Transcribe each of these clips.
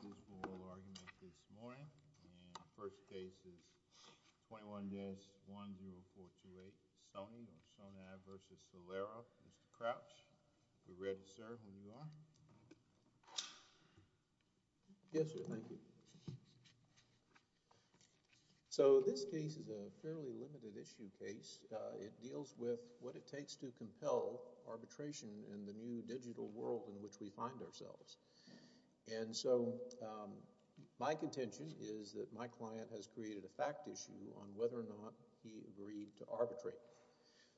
for oral argument this morning, and the first case is 21-10428, Soni v. Solera, Mr. Crouch. We're ready, sir, when you are. Yes, sir, thank you. So this case is a fairly limited-issue case. It deals with what it takes to compel arbitration in the new digital world in which we find ourselves. And so my contention is that my client has created a fact issue on whether or not he agreed to arbitrate.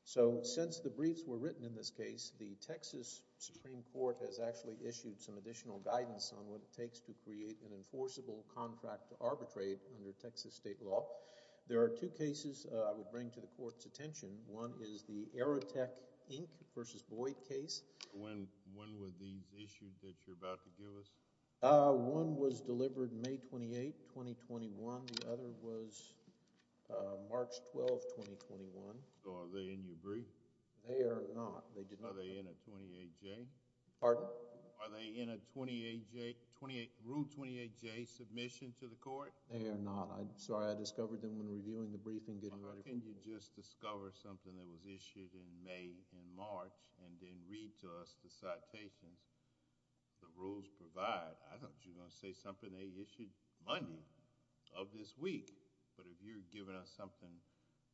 So since the briefs were written in this case, the Texas Supreme Court has actually issued some additional guidance on what it takes to create an enforceable contract to arbitrate under Texas state law. There are two cases I would bring to the Court's attention. One is the Aerotech, Inc. v. Boyd case. When were these issued that you're about to give us? One was delivered May 28, 2021. The other was March 12, 2021. So are they in your brief? They are not. Are they in a 28-J? Pardon? Are they in a 28-J, Rule 28-J submission to the Court? They are not. Sorry, I discovered them when reviewing the briefing. Why can't you just discover something that was issued in May and March and then read to us the citations the rules provide? I thought you were going to say something they issued Monday of this week. But if you're giving us something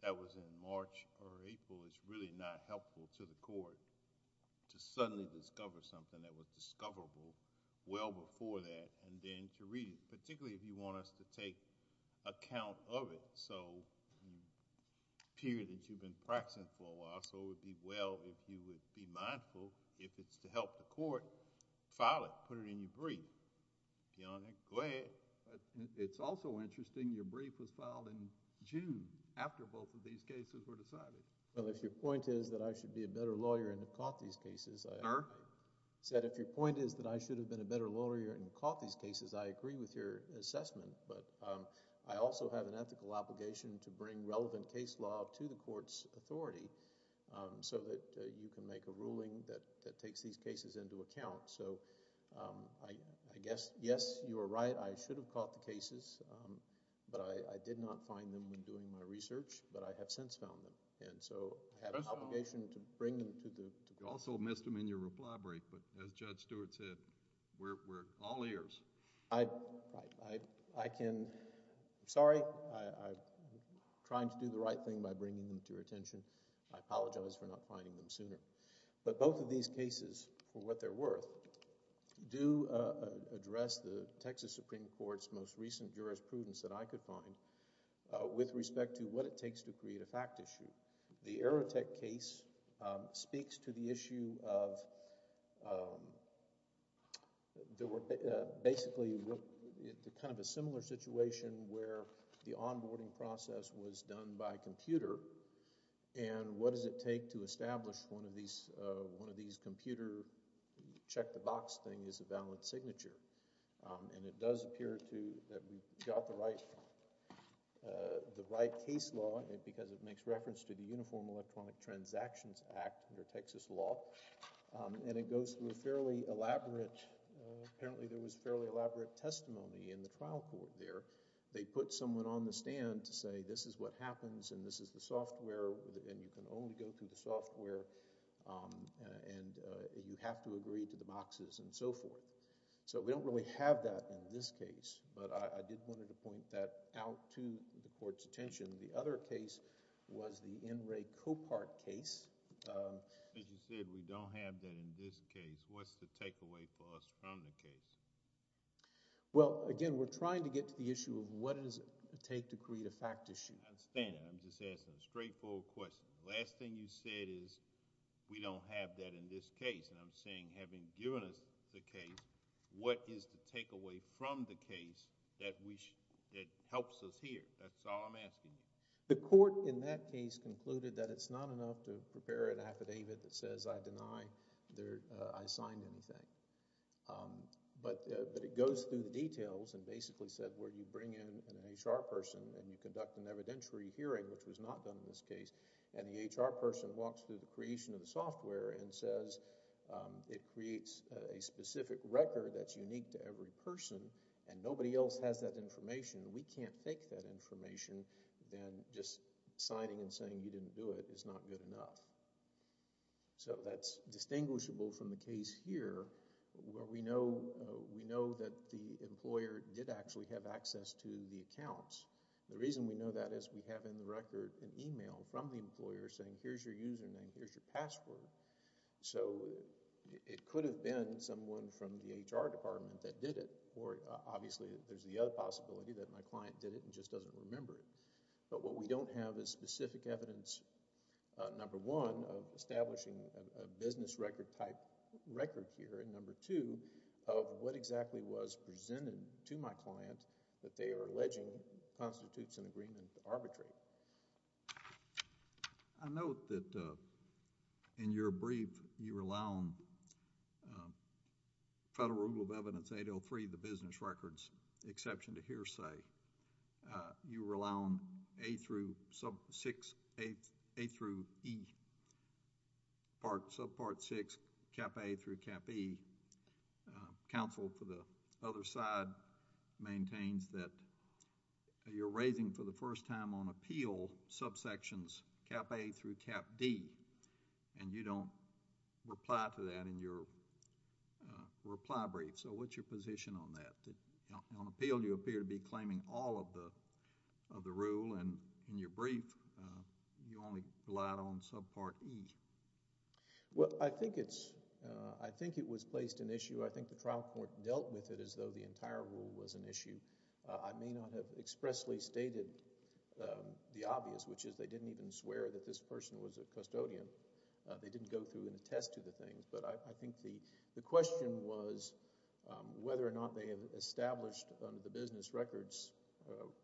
that was in March or April, it's really not helpful to the Court to suddenly discover something that was discoverable well before that and then to read it, particularly if you want us to take account of it. So it appears that you've been practicing for a while. So it would be well if you would be mindful, if it's to help the Court, file it. Put it in your brief. Your Honor, go ahead. It's also interesting your brief was filed in June after both of these cases were decided. Well, if your point is that I should be a better lawyer and have caught these cases, I agree. Sir? I said if your point is that I should have been a better lawyer and caught these cases, I agree with your assessment. But I also have an ethical obligation to bring relevant case law to the Court's authority so that you can make a ruling that takes these cases into account. So I guess, yes, you are right. I should have caught the cases, but I did not find them when doing my research, but I have since found them. And so I have an obligation to bring them to the Court. You also missed them in your reply brief, but as Judge Stewart said, we're all ears. I can, sorry, I'm trying to do the right thing by bringing them to your attention. I apologize for not finding them sooner. But both of these cases, for what they're worth, do address the Texas Supreme Court's most recent jurisprudence that I could find with respect to what it takes to create a fact issue. The Aerotech case speaks to the issue of, basically, kind of a similar situation where the onboarding process was done by computer. And what does it take to establish one of these computer check-the-box thing is a valid signature? And it does appear to, that we got the right case law because it makes reference to the Uniform Electronic Transactions Act under Texas law. And it goes through a fairly elaborate, apparently there was fairly elaborate testimony in the trial court there. They put someone on the stand to say this is what happens and this is the software and you can only go through the software and you have to agree to the boxes and so forth. So we don't really have that in this case, but I did want to point that out to the court's attention. The other case was the N. Ray Copart case. As you said, we don't have that in this case. What's the takeaway for us from the case? Well, again, we're trying to get to the issue of what does it take to create a fact issue. I understand that. I'm just asking a straightforward question. The last thing you said is we don't have that in this case. And I'm saying having given us the case, what is the takeaway from the case that helps us here? That's all I'm asking you. The court in that case concluded that it's not enough to prepare an affidavit that says I deny I signed anything. But it goes through the details and basically said where you bring in an HR person and you conduct an evidentiary hearing, which was not done in this case, and the HR person walks through the creation of the software and says it creates a specific record that's unique to every person and nobody else has that information. We can't fake that information. Then just signing and saying you didn't do it is not good enough. So that's distinguishable from the case here where we know that the employer did actually have access to the accounts. The reason we know that is we have in the record an e-mail from the employer saying here's your username, here's your password. So it could have been someone from the HR department that did it, or obviously there's the other possibility that my client did it and just doesn't remember it. But what we don't have is specific evidence, number one, of establishing a business record type record here, and number two, of what exactly was presented to my client that they are alleging constitutes an agreement to arbitrate. I note that in your brief you rely on Federal Rule of Evidence 803, the business records exception to hearsay. You rely on A through E, subpart 6, cap A through cap E. Counsel for the other side maintains that you're raising for the first time on appeal subsections cap A through cap D, and you don't reply to that in your reply brief. So what's your position on that? On appeal you appear to be claiming all of the rule, and in your brief you only relied on subpart E. Well, I think it was placed in issue. I think the trial court dealt with it as though the entire rule was an issue. I may not have expressly stated the obvious, which is they didn't even swear that this person was a custodian. They didn't go through and attest to the things. But I think the question was whether or not they have established under the business records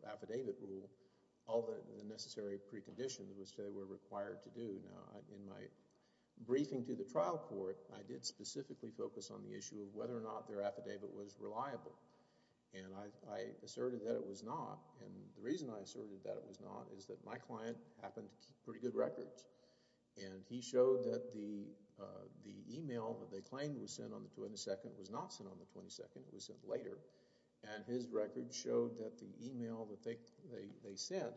affidavit rule all the necessary preconditions which they were required to do. Now, in my briefing to the trial court, I did specifically focus on the issue of whether or not their affidavit was reliable. And I asserted that it was not. And the reason I asserted that it was not is that my client happened to keep pretty good records. And he showed that the email that they claimed was sent on the 22nd was not sent on the 22nd. It was sent later. And his record showed that the email that they sent,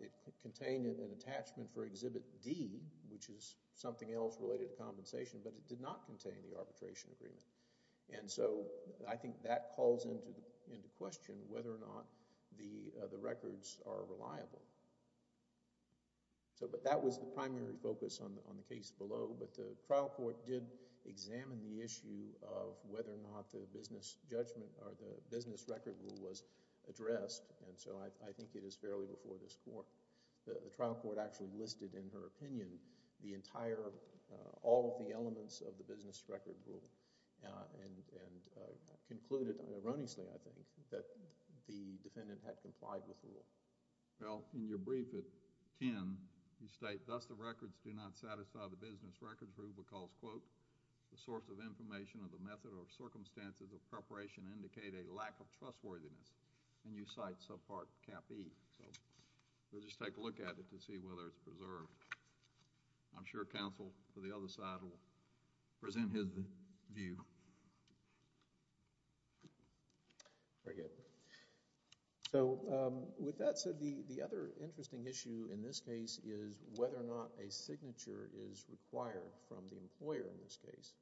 it contained an attachment for Exhibit D, which is something else related to compensation, but it did not contain the arbitration agreement. And so I think that calls into question whether or not the records are reliable. But that was the primary focus on the case below. But the trial court did examine the issue of whether or not the business judgment or the business record rule was addressed. And so I think it is fairly before this court. The trial court actually listed in her opinion the entire, all of the elements of the business record rule and concluded erroneously, I think, that the defendant had complied with the rule. Well, in your brief at 10, you state, Thus the records do not satisfy the business record rule because, quote, the source of information of the method or circumstances of preparation indicate a lack of trustworthiness. And you cite subpart Cap E. So we'll just take a look at it to see whether it's preserved. I'm sure counsel for the other side will present his view. Very good. So with that said, the other interesting issue in this case is whether or not a signature is required from the employer in this case.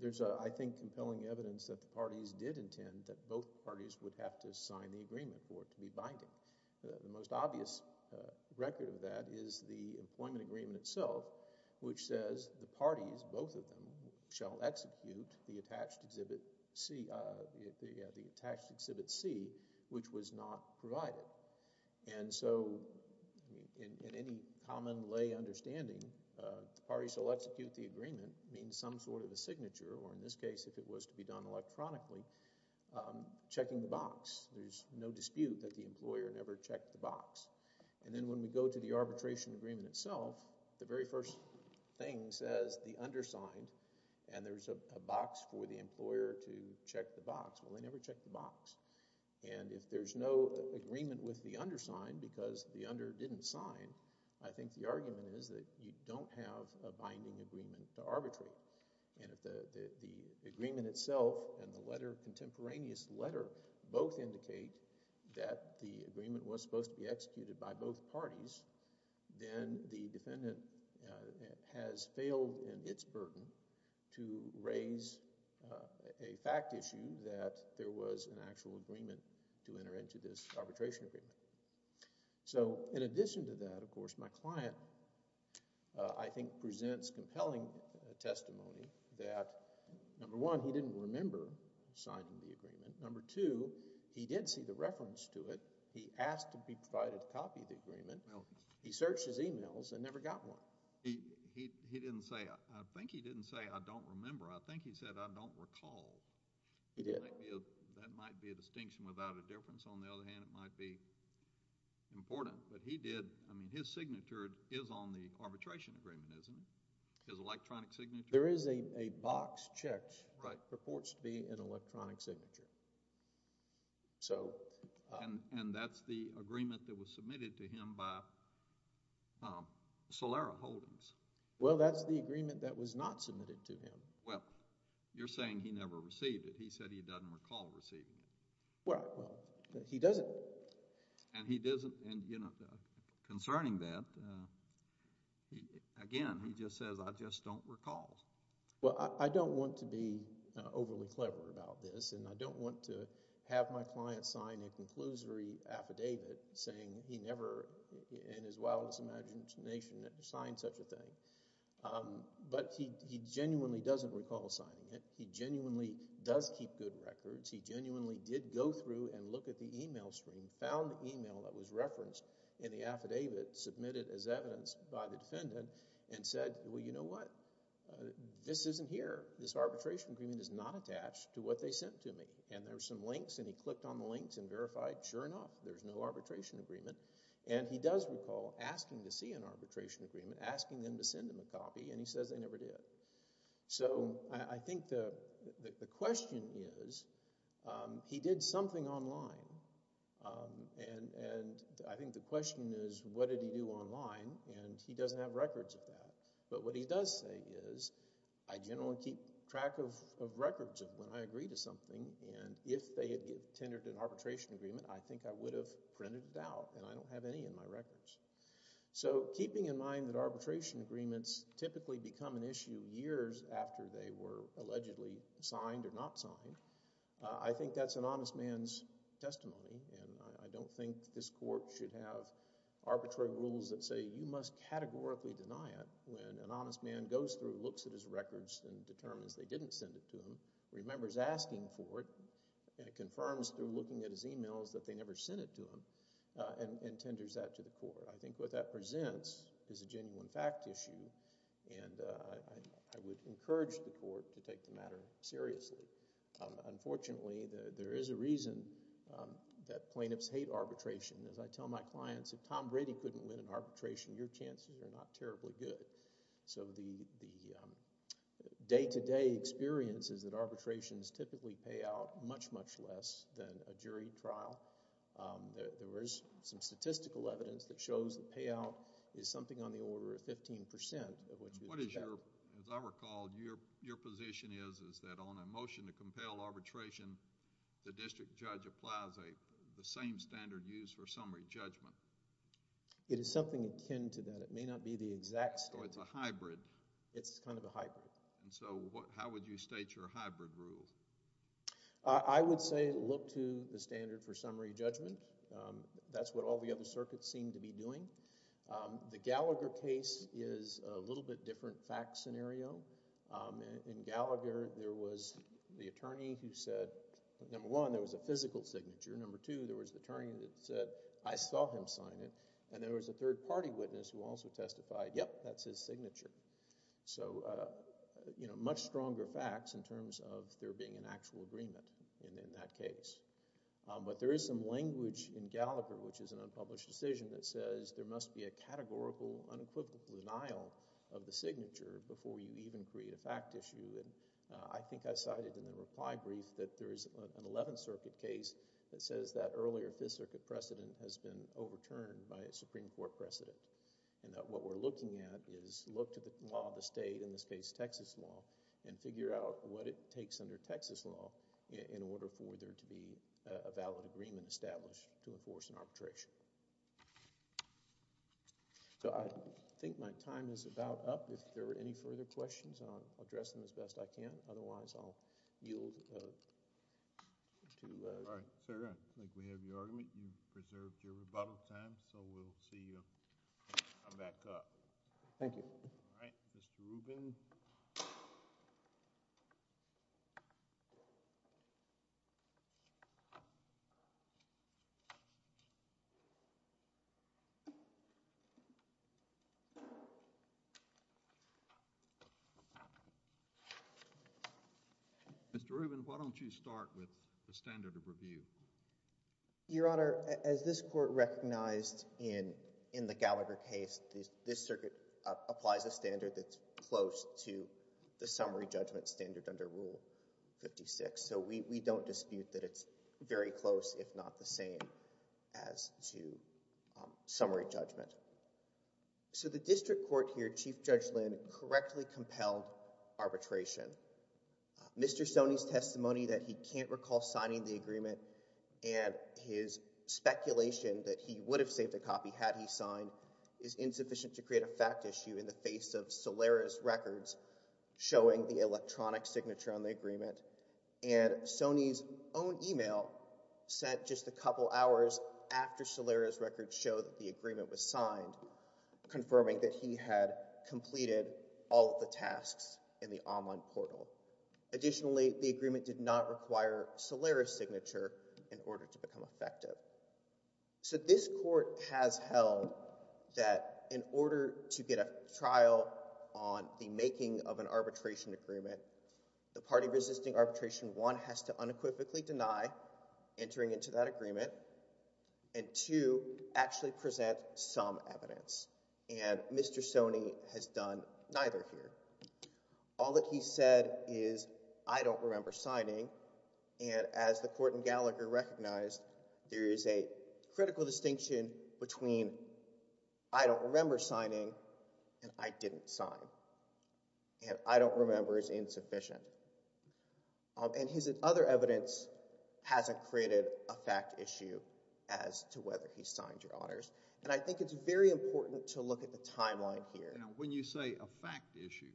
There's, I think, compelling evidence that the parties did intend that both parties would have to sign the agreement for it to be binding. The most obvious record of that is the employment agreement itself, which says the parties, both of them, shall execute the attached exhibit C, which was not provided. And so in any common lay understanding, the parties shall execute the agreement, means some sort of a signature, or in this case if it was to be done electronically, checking the box. There's no dispute that the employer never checked the box. And then when we go to the arbitration agreement itself, the very first thing says the undersigned, and there's a box for the employer to check the box. Well, they never checked the box. And if there's no agreement with the undersigned because the under didn't sign, I think the argument is that you don't have a binding agreement to arbitrate. And if the agreement itself and the letter, contemporaneous letter, both indicate that the agreement was supposed to be executed by both parties, then the defendant has failed in its burden to raise a fact issue that there was an actual agreement to enter into this arbitration agreement. So in addition to that, of course, my client, I think, presents compelling testimony that, number one, he didn't remember signing the agreement. Number two, he did see the reference to it. He asked to be provided a copy of the agreement. He searched his emails and never got one. He didn't say, I think he didn't say, I don't remember. I think he said, I don't recall. He did. That might be a distinction without a difference. On the other hand, it might be important. But he did. I mean, his signature is on the arbitration agreement, isn't it? His electronic signature. There is a box checked that purports to be an electronic signature. And that's the agreement that was submitted to him by Solera Holdings. Well, that's the agreement that was not submitted to him. Well, you're saying he never received it. He said he doesn't recall receiving it. Well, he doesn't. And he doesn't. Concerning that, again, he just says, I just don't recall. Well, I don't want to be overly clever about this, and I don't want to have my client sign a conclusory affidavit saying he never, in his wildest imagination, ever signed such a thing. But he genuinely doesn't recall signing it. He genuinely does keep good records. He genuinely did go through and look at the e-mail stream, found the e-mail that was referenced in the affidavit submitted as evidence by the defendant, and said, well, you know what, this isn't here. This arbitration agreement is not attached to what they sent to me. And there are some links, and he clicked on the links and verified, sure enough, there's no arbitration agreement. And he does recall asking to see an arbitration agreement, asking them to send him a copy, and he says they never did. So I think the question is he did something online, and I think the question is what did he do online, and he doesn't have records of that. But what he does say is I generally keep track of records of when I agree to something, and if they had tendered an arbitration agreement, I think I would have printed it out, and I don't have any in my records. So keeping in mind that arbitration agreements typically become an issue years after they were allegedly signed or not signed, I think that's an honest man's testimony, and I don't think this court should have arbitrary rules that say you must categorically deny it when an honest man goes through, looks at his records, and determines they didn't send it to him, remembers asking for it, and confirms through looking at his e-mails that they never sent it to him, and tenders that to the court. I think what that presents is a genuine fact issue, and I would encourage the court to take the matter seriously. Unfortunately, there is a reason that plaintiffs hate arbitration. As I tell my clients, if Tom Brady couldn't win an arbitration, your chances are not terribly good. So the day-to-day experience is that arbitrations typically pay out much, much less than a jury trial. There is some statistical evidence that shows the payout is something on the order of 15% of what you would expect. As I recall, your position is that on a motion to compel arbitration, the district judge applies the same standard used for summary judgment. It is something akin to that. It may not be the exact same. So it's a hybrid. It's kind of a hybrid. So how would you state your hybrid rule? I would say look to the standard for summary judgment. That's what all the other circuits seem to be doing. The Gallagher case is a little bit different fact scenario. In Gallagher, there was the attorney who said, number one, there was a physical signature. Number two, there was the attorney that said, I saw him sign it. And there was a third-party witness who also testified, yep, that's his signature. So much stronger facts in terms of there being an actual agreement in that case. But there is some language in Gallagher, which is an unpublished decision, that says there must be a categorical, unequivocal denial of the signature before you even create a fact issue. I think I cited in the reply brief that there is an Eleventh Circuit case that says that earlier Fifth Circuit precedent has been overturned by a Supreme Court precedent and that what we're looking at is look to the law of the state, in this case Texas law, and figure out what it takes under Texas law in order for there to be a valid agreement established to enforce an arbitration. So I think my time is about up. If there are any further questions, I'll address them as best I can. Otherwise, I'll yield to— All right, Senator, I think we have your argument. You've preserved your rebuttal time, so we'll see you come back up. Thank you. All right, Mr. Rubin. Mr. Rubin, why don't you start with the standard of review? Your Honor, as this court recognized in the Gallagher case, this circuit applies a standard that's close to the summary judgment standard under Rule 56. So we don't dispute that it's very close, if not the same, as to summary judgment. So the district court here, Chief Judge Lynn, correctly compelled arbitration. Mr. Stoney's testimony that he can't recall signing the agreement and his speculation that he would have saved a copy had he signed is insufficient to create a fact issue in the face of Solaris Records showing the electronic signature on the agreement. And Stoney's own email sent just a couple hours after Solaris Records showed that the agreement was signed, confirming that he had completed all of the tasks in the online portal. Additionally, the agreement did not require Solaris signature in order to become effective. So this court has held that in order to get a trial on the making of an arbitration agreement, the party resisting arbitration, one, has to unequivocally deny entering into that agreement, and two, actually present some evidence. And Mr. Stoney has done neither here. All that he said is, I don't remember signing. And as the court in Gallagher recognized, there is a critical distinction between I don't remember signing and I didn't sign. And I don't remember is insufficient. And his other evidence hasn't created a fact issue as to whether he signed your honors. And I think it's very important to look at the timeline here. Now, when you say a fact issue,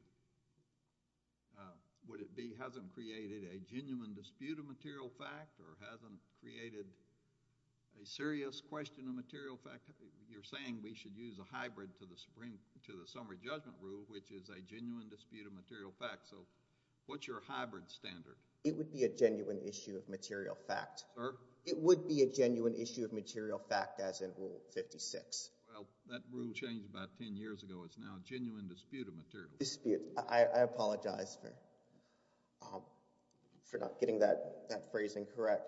would it be hasn't created a genuine dispute of material fact or hasn't created a serious question of material fact? You're saying we should use a hybrid to the summary judgment rule, which is a genuine dispute of material fact. So what's your hybrid standard? It would be a genuine issue of material fact. Sir? It would be a genuine issue of material fact as in Rule 56. Well, that rule changed about 10 years ago. It's now a genuine dispute of material fact. Dispute. I apologize for not getting that phrasing correct.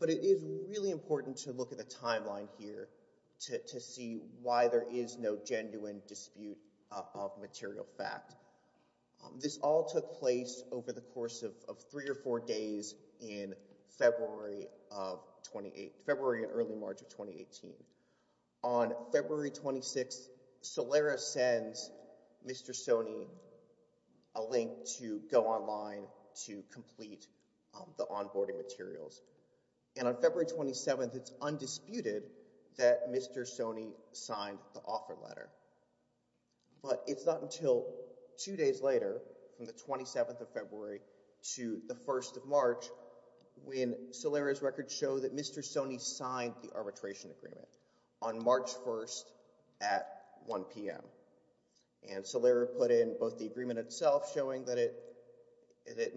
But it is really important to look at the timeline here to see why there is no genuine dispute of material fact. This all took place over the course of three or four days in February of 2018—February and early March of 2018. On February 26th, Solera sends Mr. Sone a link to go online to complete the onboarding materials. And on February 27th, it's undisputed that Mr. Sone signed the offer letter. But it's not until two days later, from the 27th of February to the 1st of March, when Solera's records show that Mr. Sone signed the arbitration agreement on March 1st at 1 p.m. And Solera put in both the agreement itself showing that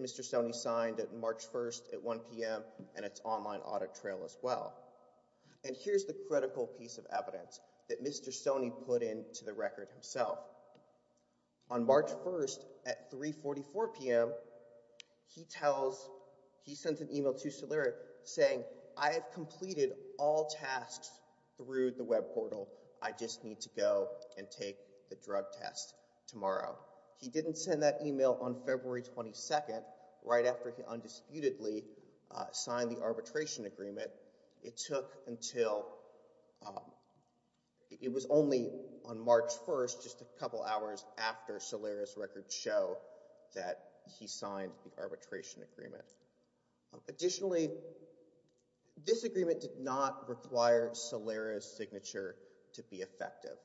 Mr. Sone signed it March 1st at 1 p.m. and its online audit trail as well. And here's the critical piece of evidence that Mr. Sone put into the record himself. On March 1st at 3.44 p.m., he sends an email to Solera saying, I have completed all tasks through the web portal. I just need to go and take the drug test tomorrow. He didn't send that email on February 22nd right after he undisputedly signed the arbitration agreement. It took until – it was only on March 1st, just a couple hours after Solera's records show that he signed the arbitration agreement. Additionally, this agreement did not require Solera's signature to be effective.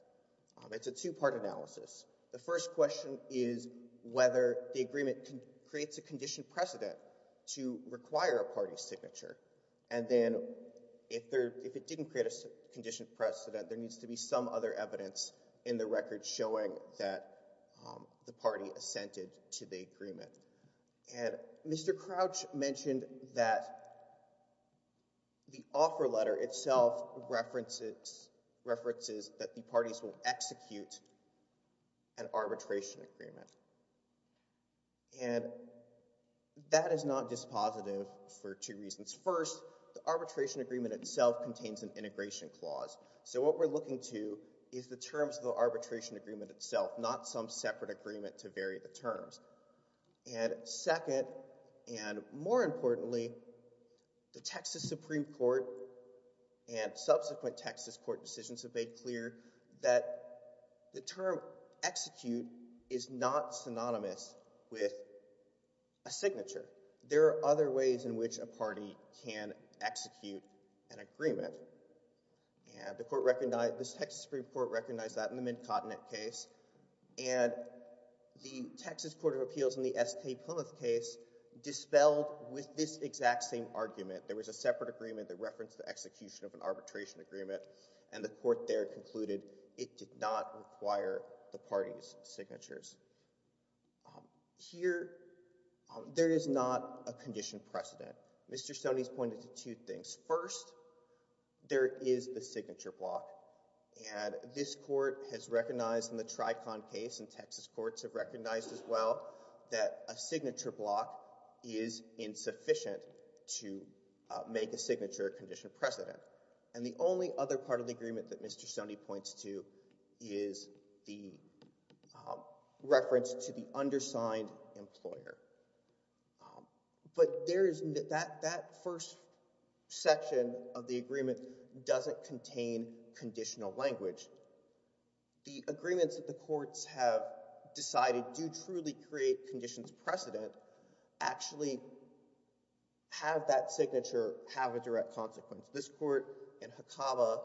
It's a two-part analysis. The first question is whether the agreement creates a condition precedent to require a party's signature. And then if it didn't create a condition precedent, there needs to be some other evidence in the record showing that the party assented to the agreement. And Mr. Crouch mentioned that the offer letter itself references that the parties will execute an arbitration agreement. And that is not dispositive for two reasons. First, the arbitration agreement itself contains an integration clause. So what we're looking to is the terms of the arbitration agreement itself, not some separate agreement to vary the terms. And second, and more importantly, the Texas Supreme Court and subsequent Texas court decisions have made clear that the term execute is not synonymous with a signature. There are other ways in which a party can execute an agreement. And the court recognized, the Texas Supreme Court recognized that in the McConnett case. And the Texas Court of Appeals in the S.K. Plymouth case dispelled with this exact same argument. There was a separate agreement that referenced the execution of an arbitration agreement. And the court there concluded it did not require the party's signatures. Here, there is not a condition precedent. Mr. Stoney's pointed to two things. First, there is the signature block. And this court has recognized in the Tricon case and Texas courts have recognized as well that a signature block is insufficient to make a signature condition precedent. And the only other part of the agreement that Mr. Stoney points to is the reference to the undersigned employer. But that first section of the agreement doesn't contain conditional language. The agreements that the courts have decided do truly create conditions precedent actually have that signature have a direct consequence. This court in Hakaba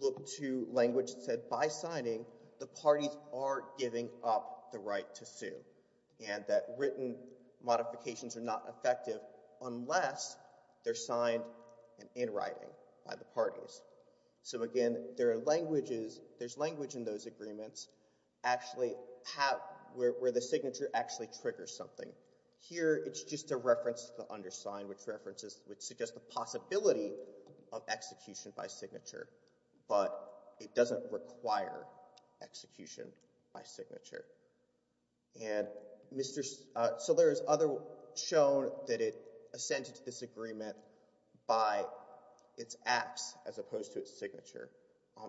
looked to language that said by signing, the parties are giving up the right to sue. And that written modifications are not effective unless they're signed in writing by the parties. So again, there are languages, there's language in those agreements actually have, where the signature actually triggers something. Here, it's just a reference to the undersigned, which suggests the possibility of execution by signature. But it doesn't require execution by signature. And so there is other shown that it assented to this agreement by its acts as opposed to its signature.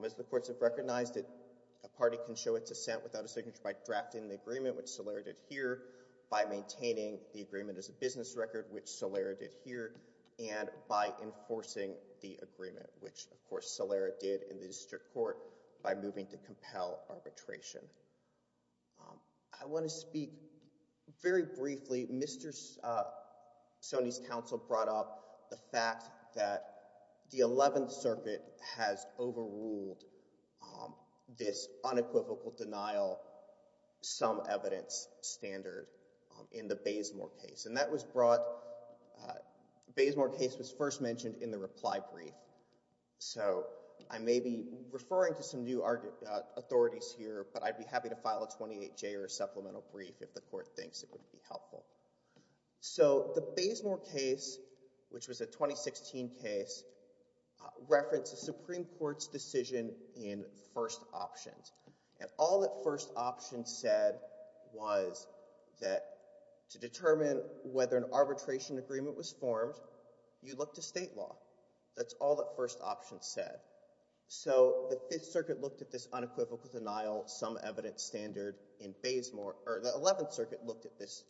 As the courts have recognized, a party can show its assent without a signature by drafting the agreement, which Solera did here, by maintaining the agreement as a business record, which Solera did here, and by enforcing the agreement, which of course Solera did in the district court by moving to compel arbitration. I want to speak very briefly. Mr. Sonny's counsel brought up the fact that the 11th Circuit has overruled this unequivocal denial sum evidence standard in the Bazemore case. And that was brought, the Bazemore case was first mentioned in the reply brief. So I may be referring to some new authorities here, but I'd be happy to file a 28J or a supplemental brief if the court thinks it would be helpful. So the Bazemore case, which was a 2016 case, referenced the Supreme Court's decision in first options. And all that first options said was that to determine whether an arbitration agreement was formed, you look to state law. That's all that first option said. So the Fifth Circuit looked at this unequivocal denial sum evidence standard in Bazemore, or the 11th Circuit looked at this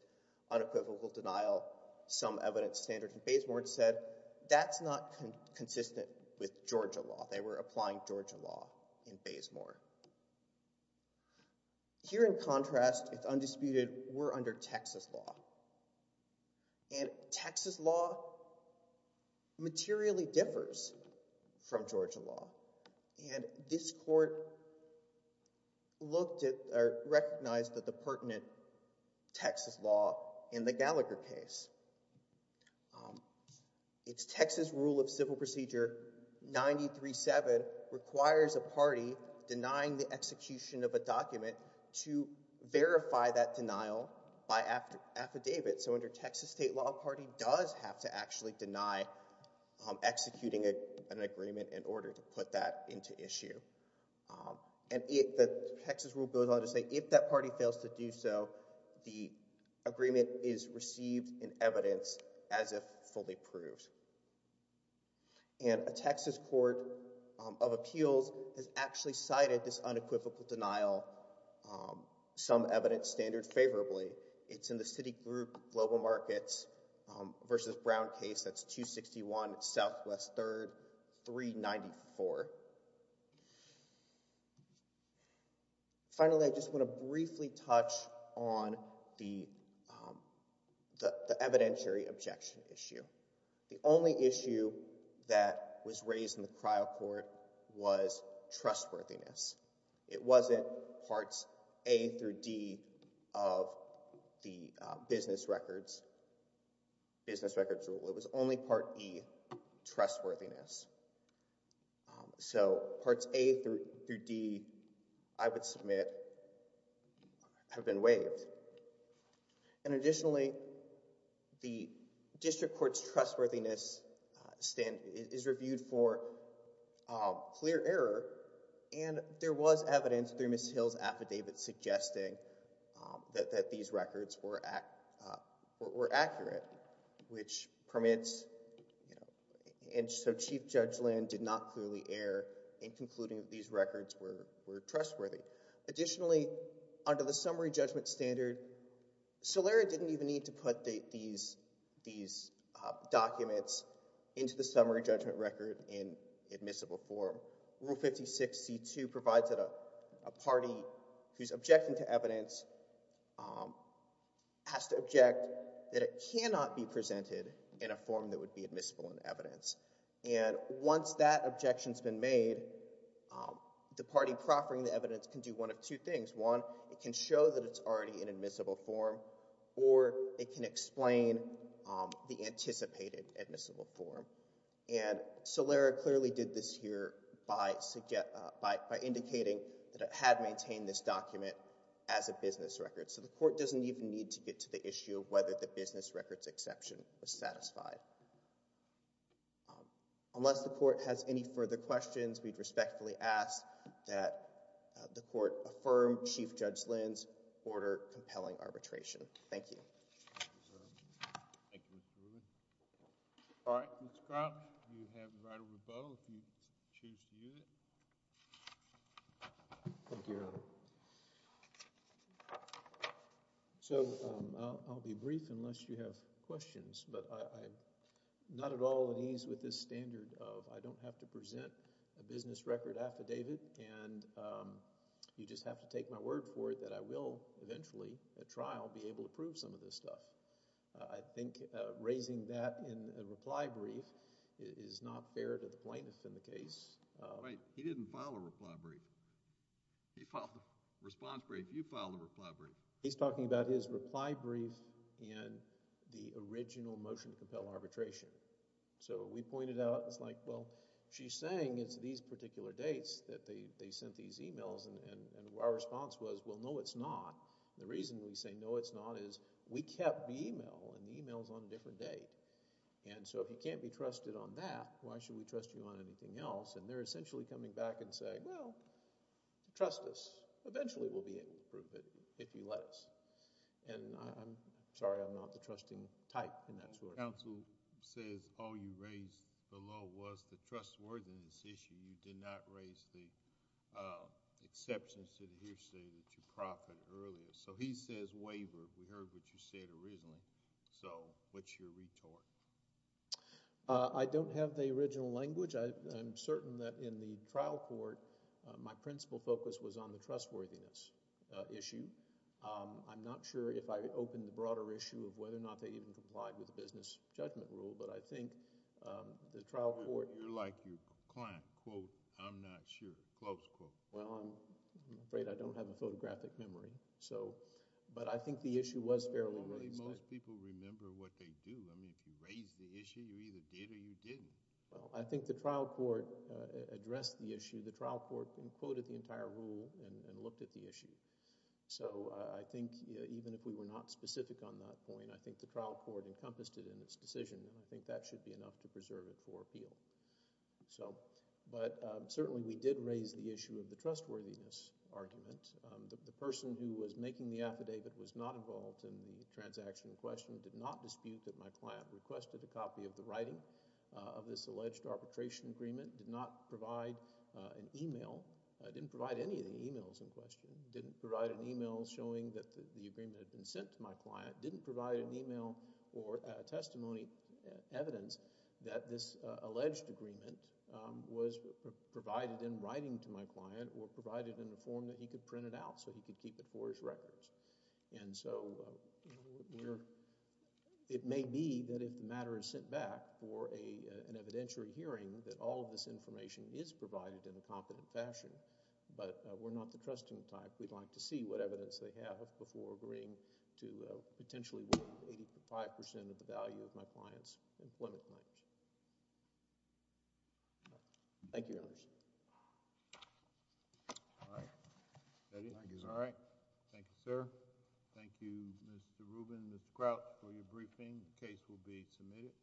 unequivocal denial sum evidence standard in Bazemore and said, that's not consistent with Georgia law. They were applying Georgia law in Bazemore. Here in contrast, it's undisputed, we're under Texas law. And Texas law materially differs from Georgia law. And this court recognized the pertinent Texas law in the Gallagher case. It's Texas rule of civil procedure 93-7 requires a party denying the execution of a document to verify that denial by affidavit. So under Texas state law, a party does have to actually deny executing an agreement in order to put that into issue. And the Texas rule goes on to say, if that party fails to do so, the agreement is received in evidence as if fully approved. And a Texas court of appeals has actually cited this unequivocal denial sum evidence standard favorably. It's in the Citigroup Global Markets versus Brown case. That's 261 Southwest 3rd 394. Finally, I just want to briefly touch on the evidentiary objection issue. The only issue that was raised in the trial court was trustworthiness. It wasn't parts A through D of the business records, business records rule. It was only part E, trustworthiness. So parts A through D, I would submit, have been waived. And additionally, the district court's trustworthiness is reviewed for clear error. And there was evidence through Ms. Hill's affidavit suggesting that these records were accurate, which permits. And so Chief Judge Lynn did not clearly err in concluding that these records were trustworthy. Additionally, under the summary judgment standard, Solera didn't even need to put these documents into the summary judgment record in admissible form. Rule 56C2 provides that a party who's objecting to evidence has to object that it cannot be presented in a form that would be admissible in evidence. And once that objection's been made, the party proffering the evidence can do one of two things. One, it can show that it's already in admissible form, or it can explain the anticipated admissible form. And Solera clearly did this here by indicating that it had maintained this document as a business record. So the court doesn't even need to get to the issue of whether the business record's exception was satisfied. Unless the court has any further questions, we'd respectfully ask that the court affirm Chief Judge Lynn's order compelling arbitration. Thank you. Thank you, Mr. Rubin. All right. Ms. Crouch, you have the right of rebuttal if you choose to use it. Thank you, Your Honor. So I'll be brief unless you have questions, but I'm not at all at ease with this standard of I don't have to present a business record affidavit and you just have to take my word for it that I will eventually at trial be able to prove some of this stuff. I think raising that in a reply brief is not fair to the plaintiff in the case. Wait. He didn't file a reply brief. He filed a response brief. You filed a reply brief. He's talking about his reply brief in the original motion to compel arbitration. So we pointed out it's like, well, she's saying it's these particular dates that they sent these emails, and our response was, well, no, it's not. The reason we say no, it's not is we kept the email, and the email's on a different date. And so if you can't be trusted on that, why should we trust you on anything else? And they're essentially coming back and saying, well, trust us. Eventually we'll be able to prove it if you let us. And I'm sorry I'm not the trusting type in that sort of thing. Counsel says all you raised below was the trustworthiness issue. You did not raise the exceptions to the hearsay that you profited earlier. So he says wavered. We heard what you said originally. So what's your retort? I don't have the original language. I'm certain that in the trial court, my principal focus was on the trustworthiness issue. I'm not sure if I opened the broader issue of whether or not they even complied with the business judgment rule. But I think the trial court— You're like your client, quote, I'm not sure, close quote. Well, I'm afraid I don't have a photographic memory. But I think the issue was fairly raised. I think most people remember what they do. I mean, if you raise the issue, you either did or you didn't. Well, I think the trial court addressed the issue. The trial court quoted the entire rule and looked at the issue. So I think even if we were not specific on that point, I think the trial court encompassed it in its decision. And I think that should be enough to preserve it for appeal. But certainly we did raise the issue of the trustworthiness argument. The person who was making the affidavit was not involved in the transaction in question, did not dispute that my client requested a copy of the writing of this alleged arbitration agreement, did not provide an email, didn't provide any of the emails in question, didn't provide an email showing that the agreement had been sent to my client, didn't provide an email or testimony evidence that this alleged agreement was provided in writing to my client or provided in a form that he could print it out so he could keep it for his records. And so it may be that if the matter is sent back for an evidentiary hearing, that all of this information is provided in a competent fashion. But we're not the trusting type. We'd like to see what evidence they have before agreeing to potentially weigh 85 percent of the value of my client's employment claims. Thank you. Thank you, Your Honor. All right. Thank you, sir. Thank you, Mr. Rubin and Mr. Crouch, for your briefing. The case will be submitted.